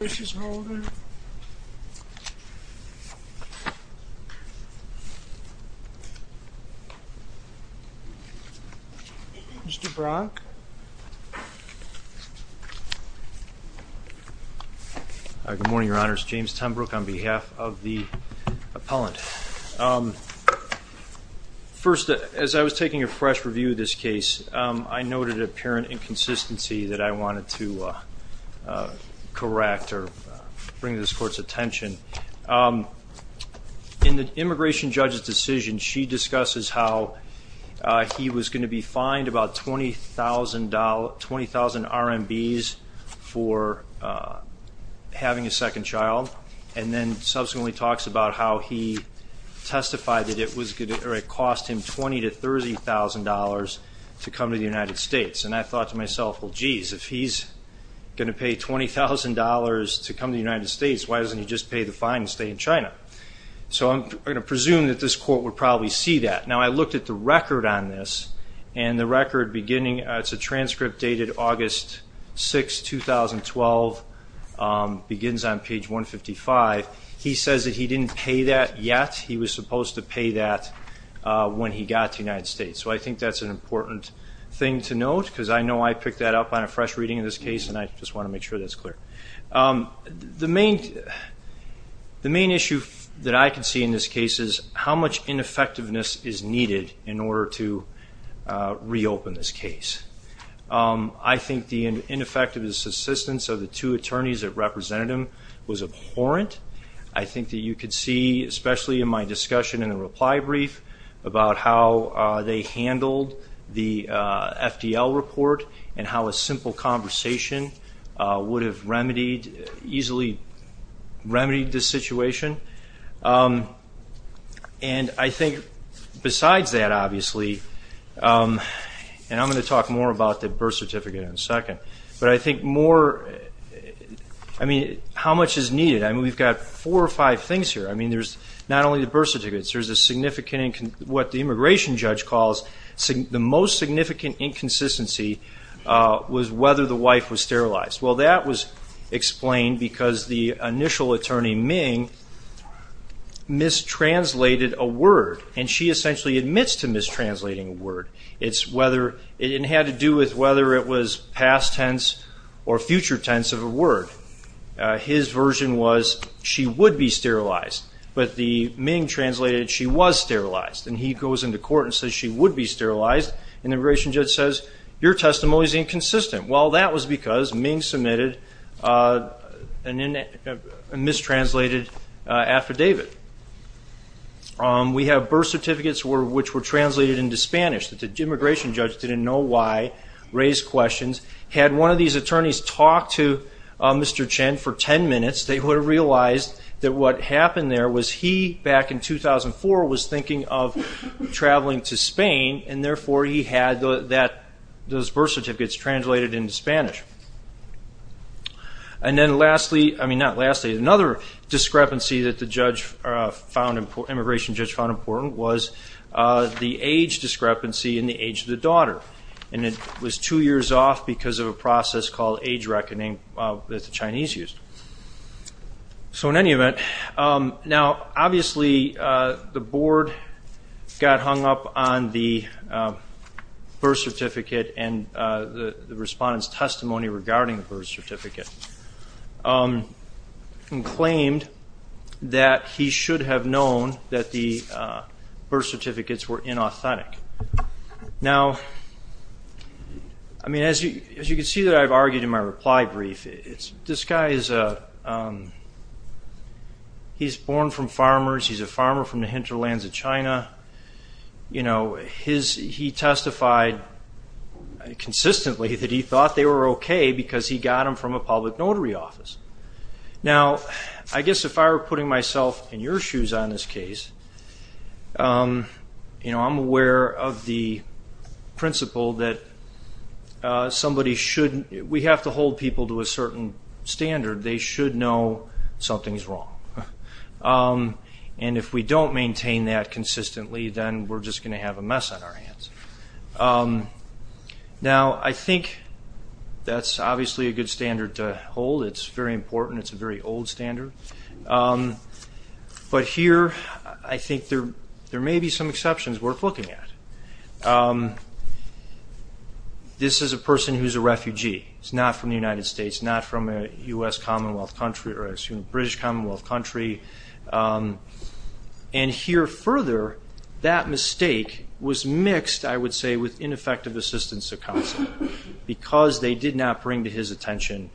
Eric Holder, Jr. Mr. Brock. Good morning, Your Honor. It's James Tenbrook on behalf of the appellant. First, as I was taking a fresh review of this case, I noted an apparent inconsistency that I wanted to correct or bring to this court's attention. In the immigration judge's decision, she discusses how he was going to be fined about $20,000 RMBs for having a second child, and then subsequently talks about how he testified that it cost him $20,000 to $30,000 to come to the United States. And I thought to myself, well, geez, if he's going to pay $20,000 to come to the United States, why doesn't he just pay the fine and stay in China? So I'm going to presume that this court would probably see that. Now, I looked at the record on this, and the record beginning, it's a transcript dated August 6, 2012, begins on page 155. He says that he didn't pay that yet. He was supposed to pay that when he got to the United States. So I think that's an important thing to note, because I know I picked that up on a fresh reading of this case, and I just want to make sure that's clear. The main issue that I can see in this case is how much ineffectiveness is needed in order to reopen this case. I think the ineffectiveness assistance of the two attorneys that represented him was abhorrent. I think that you could see, especially in my discussion in the reply brief, about how they handled the FDL report and how a simple conversation would have remedied, easily remedied the situation. And I think besides that, obviously, and I'm going to talk more about the birth certificate in a second, but I think more, I mean, how much is needed? I mean, we've got four or five things here. I mean, there's not only the birth certificates. There's a significant, what the immigration judge calls the most significant inconsistency was whether the wife was sterilized. Well, that was explained because the initial attorney, Ming, mistranslated a word, and she essentially admits to mistranslating a word. It had to do with whether it was past tense or future tense of a word. His version was she would be sterilized, but the Ming translated she was sterilized, and he goes into court and says she would be sterilized, and the immigration judge says your testimony is inconsistent. Well, that was because Ming submitted a mistranslated affidavit. We have birth certificates which were translated into Spanish. The immigration judge didn't know why, raised questions. Had one of these attorneys talked to Mr. Chen for 10 minutes, they would have realized that what happened there was he, back in 2004, was thinking of traveling to Spain, and therefore he had those birth certificates translated into Spanish. And then lastly, I mean, not lastly, another discrepancy that the immigration judge found important was the age discrepancy and the age of the daughter, and it was two years off because of a process called age reckoning that the Chinese used. So in any event, now obviously the board got hung up on the birth certificate and the respondent's testimony regarding the birth certificate and claimed that he should have known that the birth certificates were inauthentic. Now, I mean, as you can see that I've argued in my reply brief, this guy is a, he's born from farmers, he's a farmer from the hinterlands of China. You know, he testified consistently that he thought they were okay because he got them from a public notary office. Now, I guess if I were putting myself in your shoes on this case, you know, I'm aware of the principle that somebody should, we have to hold people to a certain standard. They should know something's wrong. And if we don't maintain that consistently, then we're just going to have a mess on our hands. Now, I think that's obviously a good standard to hold. It's very important. It's a very old standard. But here I think there may be some exceptions worth looking at. This is a person who's a refugee. He's not from the United States, not from a U.S. Commonwealth country, or I assume British Commonwealth country. And here further, that mistake was mixed, I would say, with ineffective assistance to counsel because they did not bring to his attention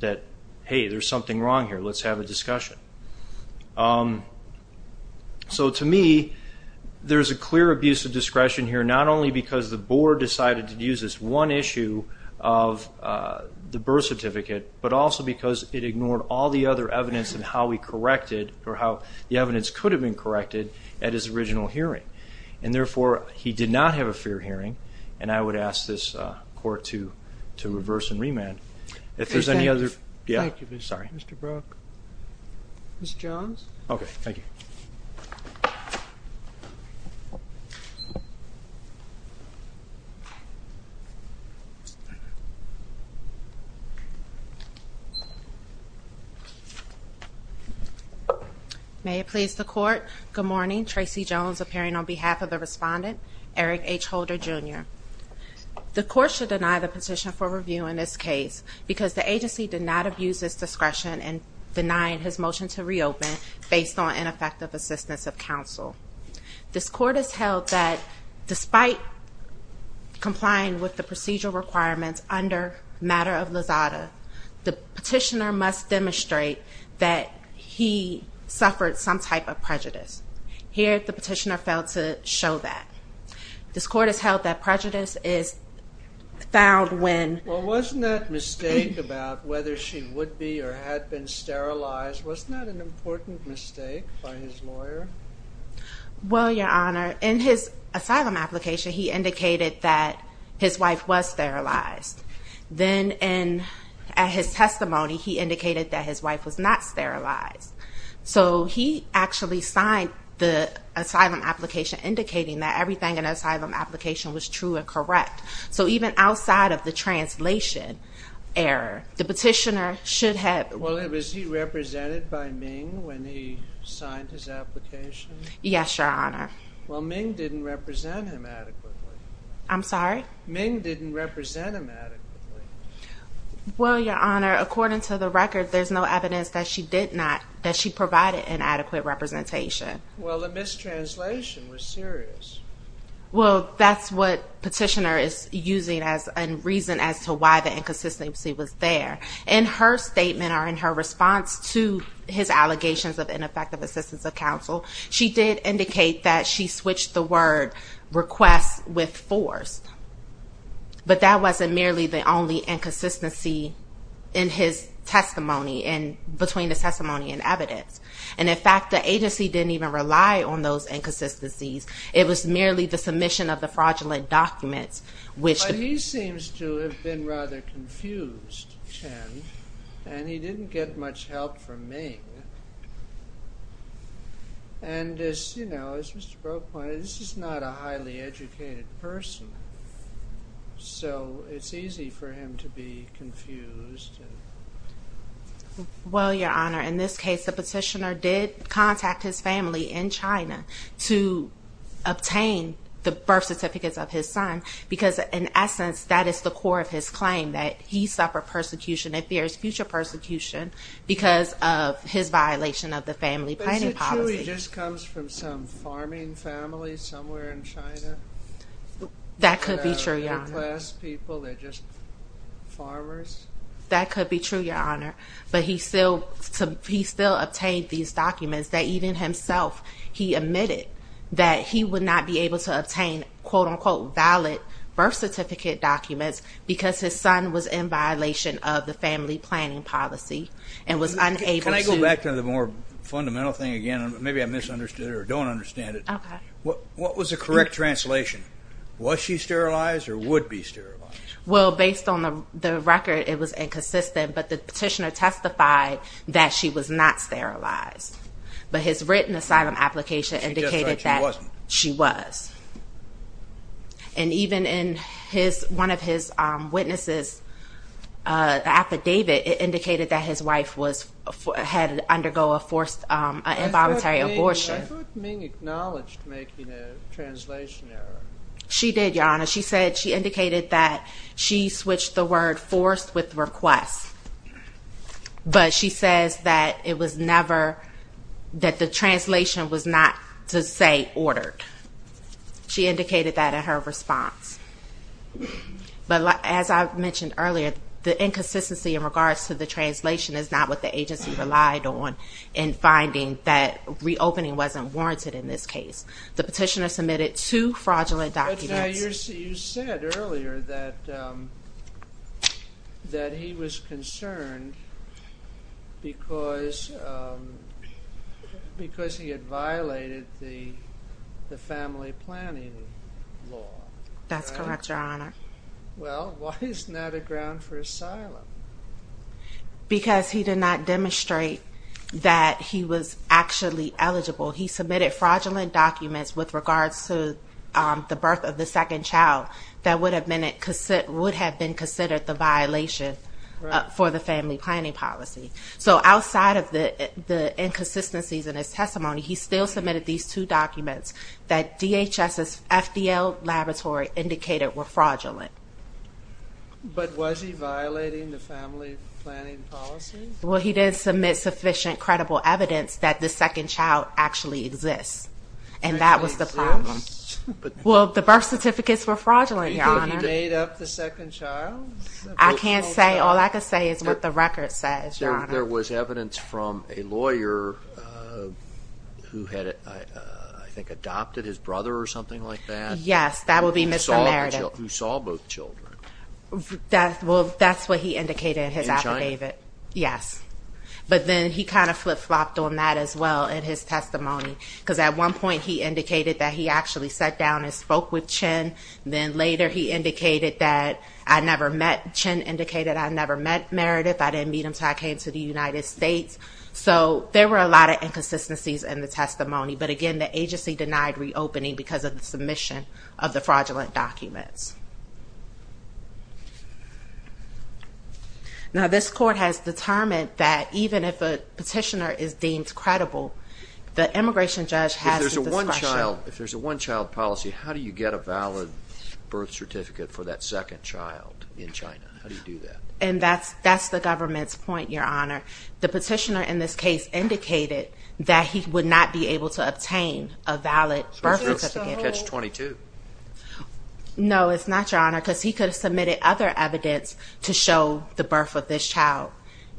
that, hey, there's something wrong here. Let's have a discussion. So to me, there's a clear abuse of discretion here, not only because the board decided to use this one issue of the birth certificate, but also because it ignored all the other evidence and how we corrected or how the evidence could have been corrected at his original hearing. And therefore, he did not have a fair hearing. And I would ask this court to reverse and remand. If there's any other ---- Thank you, Mr. Brook. Mr. Jones? Okay, thank you. May it please the Court, good morning. Tracy Jones appearing on behalf of the respondent, Eric H. Holder, Jr. The court should deny the petition for review in this case because the agency did not abuse its discretion in denying his motion to reopen based on ineffective assistance of counsel. This court has held that despite complying with the procedural requirements under matter of Lozada, the petitioner must demonstrate that he suffered some type of prejudice. Here, the petitioner failed to show that. This court has held that prejudice is found when ---- Well, wasn't that mistake about whether she would be or had been sterilized, wasn't that an important mistake by his lawyer? Well, Your Honor, in his asylum application, he indicated that his wife was sterilized. Then in his testimony, he indicated that his wife was not sterilized. So he actually signed the asylum application indicating that everything in the asylum application was true and correct. So even outside of the translation error, the petitioner should have ---- Well, was he represented by Ming when he signed his application? Yes, Your Honor. Well, Ming didn't represent him adequately. I'm sorry? Ming didn't represent him adequately. Well, Your Honor, according to the record, there's no evidence that she did not, that she provided an adequate representation. Well, the mistranslation was serious. Well, that's what petitioner is using as a reason as to why the inconsistency was there. In her statement or in her response to his allegations of ineffective assistance of counsel, she did indicate that she switched the word request with forced. But that wasn't merely the only inconsistency in his testimony and between the testimony and evidence. And in fact, the agency didn't even rely on those inconsistencies. It was merely the submission of the fraudulent documents which---- But he seems to have been rather confused, Chen. And he didn't get much help from Ming. And, you know, as Mr. Brode pointed, this is not a highly educated person. So it's easy for him to be confused. Well, Your Honor, in this case, the petitioner did contact his family in China to obtain the birth certificates of his son because, in essence, that is the core of his claim, that he suffered persecution and fears future persecution because of his violation of the family planning policy. But is it true he just comes from some farming family somewhere in China? That could be true, Your Honor. They're class people. They're just farmers. That could be true, Your Honor. But he still obtained these documents that even himself, he admitted that he would not be able to obtain, quote-unquote, birth certificate documents because his son was in violation of the family planning policy and was unable to---- Can I go back to the more fundamental thing again? Maybe I misunderstood it or don't understand it. Okay. What was the correct translation? Was she sterilized or would be sterilized? Well, based on the record, it was inconsistent. But the petitioner testified that she was not sterilized. But his written asylum application indicated that she was. And even in one of his witnesses' affidavit, it indicated that his wife had undergone a forced involuntary abortion. I thought Ming acknowledged making a translation error. She did, Your Honor. She said she indicated that she switched the word forced with request. But she says that it was never, that the translation was not to say ordered. She indicated that in her response. But as I mentioned earlier, the inconsistency in regards to the translation is not what the agency relied on in finding that reopening wasn't warranted in this case. The petitioner submitted two fraudulent documents. Now, you said earlier that he was concerned because he had violated the family planning law. That's correct, Your Honor. Well, why isn't that a ground for asylum? Because he did not demonstrate that he was actually eligible. He submitted fraudulent documents with regards to the birth of the second child that would have been considered the violation for the family planning policy. So outside of the inconsistencies in his testimony, he still submitted these two documents that DHS's FDL laboratory indicated were fraudulent. But was he violating the family planning policy? Well, he didn't submit sufficient credible evidence that the second child actually exists. And that was the problem. Well, the birth certificates were fraudulent, Your Honor. You think he made up the second child? I can't say. All I can say is what the record says, Your Honor. There was evidence from a lawyer who had, I think, adopted his brother or something like that? Yes, that would be Mr. Meredith. Who saw both children. Well, that's what he indicated in his affidavit. Yes. But then he kind of flip-flopped on that as well in his testimony. Because at one point he indicated that he actually sat down and spoke with Chen. Then later he indicated that I never met Chen, indicated I never met Meredith, I didn't meet him until I came to the United States. So there were a lot of inconsistencies in the testimony. But, again, the agency denied reopening because of the submission of the fraudulent documents. Now, this court has determined that even if a petitioner is deemed credible, the immigration judge has the discretion. If there's a one-child policy, how do you get a valid birth certificate for that second child in China? How do you do that? And that's the government's point, Your Honor. The petitioner in this case indicated that he would not be able to obtain a valid birth certificate. So it's just a catch-22? No, it's not, Your Honor, because he could have submitted other evidence to show the birth of this child.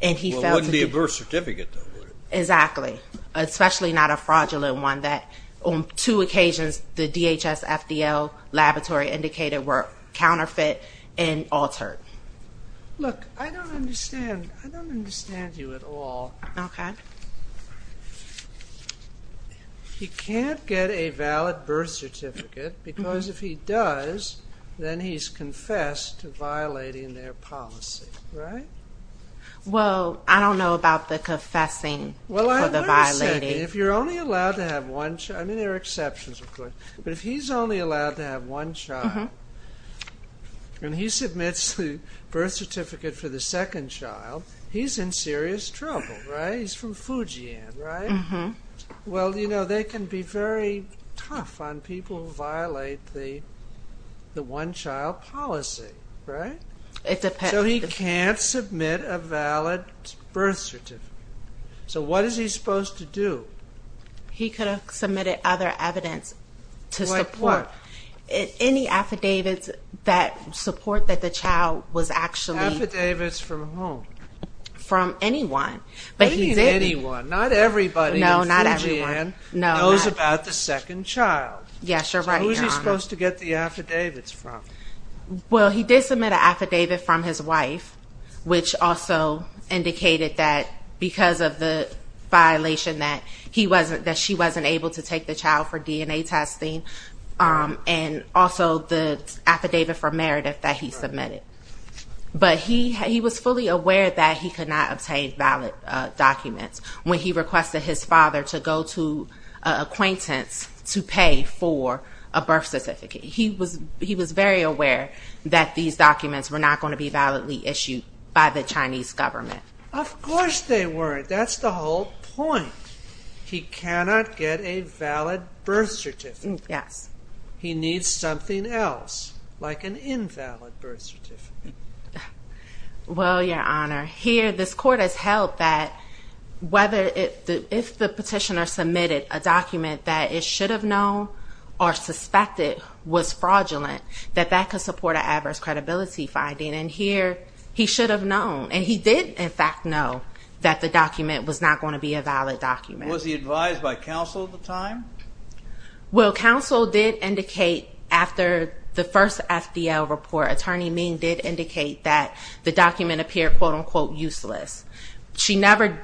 Well, it wouldn't be a birth certificate, though, would it? Exactly. Especially not a fraudulent one that, on two occasions, the DHS-FDL laboratory indicated were counterfeit and altered. Look, I don't understand. I don't understand you at all. Okay. He can't get a valid birth certificate because if he does, then he's confessed to violating their policy, right? Well, I don't know about the confessing for the violating. Well, I understand. If you're only allowed to have one child, I mean, there are exceptions, of course, but if he's only allowed to have one child, and he submits the birth certificate for the second child, he's in serious trouble, right? He's from Fujian, right? Well, you know, they can be very tough on people who violate the one-child policy, right? It depends. So he can't submit a valid birth certificate. So what is he supposed to do? He could have submitted other evidence to support. Like what? Any affidavits that support that the child was actually... Affidavits from whom? From anyone. But he didn't. What do you mean anyone? Not everybody in Fujian knows about the second child. Yes, you're right, Your Honor. So who is he supposed to get the affidavits from? Well, he did submit an affidavit from his wife, which also indicated that because of the violation, that she wasn't able to take the child for DNA testing, and also the affidavit for Meredith that he submitted. But he was fully aware that he could not obtain valid documents when he requested his father to go to an acquaintance to pay for a birth certificate. He was very aware that these documents were not going to be validly issued by the Chinese government. Of course they weren't. That's the whole point. He cannot get a valid birth certificate. Yes. He needs something else, like an invalid birth certificate. Well, Your Honor, here this court has held that if the petitioner submitted a document that it should have known or suspected was fraudulent, that that could support an adverse credibility finding, and here he should have known, and he did, in fact, know that the document was not going to be a valid document. Was he advised by counsel at the time? Well, counsel did indicate, after the first FDL report, Attorney Ming did indicate that the document appeared, quote-unquote, useless. She never,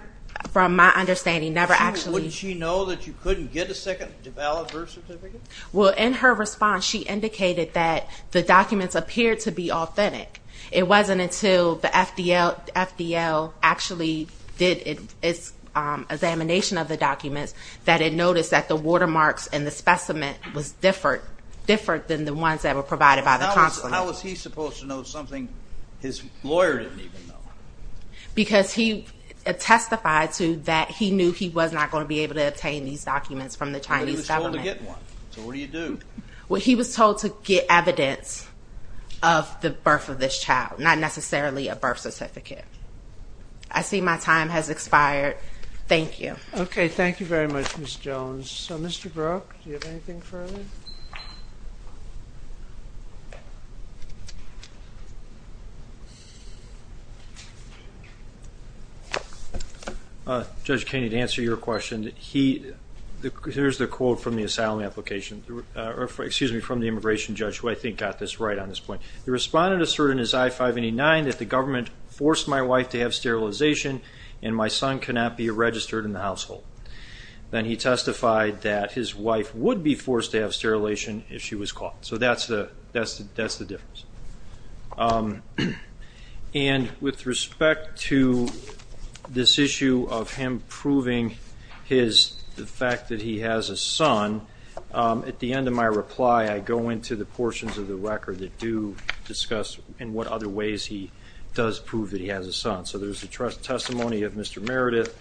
from my understanding, never actually Wouldn't she know that you couldn't get a second valid birth certificate? Well, in her response, she indicated that the documents appeared to be authentic. It wasn't until the FDL actually did its examination of the documents that it noticed that the watermarks in the specimen was different than the ones that were provided by the counsel. How was he supposed to know something his lawyer didn't even know? Because he testified to that he knew he was not going to be able to obtain these documents from the Chinese government. But he was told to get one, so what do you do? Well, he was told to get evidence of the birth of this child, not necessarily a birth certificate. I see my time has expired. Thank you. Okay, thank you very much, Ms. Jones. Mr. Brooke, do you have anything further? Judge Kenney, to answer your question, here's the quote from the asylum application, or excuse me, from the immigration judge, who I think got this right on this point. The respondent asserted in his I-589 that the government forced my wife to have sterilization and my son cannot be registered in the household. Then he testified that his wife would be forced to have sterilization if she was caught. So that's the difference. And with respect to this issue of him proving the fact that he has a son, at the end of my reply I go into the portions of the record that do discuss in what other ways he does prove that he has a son. So there's the testimony of Mr. Meredith,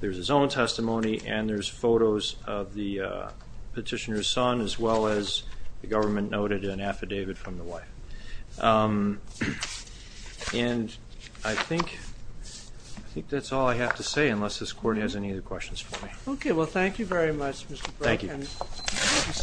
there's his own testimony, and there's photos of the petitioner's son, as well as the government noted an affidavit from the wife. And I think that's all I have to say, unless this Court has any other questions for me. Okay, well, thank you very much, Mr. Brooke. Thank you.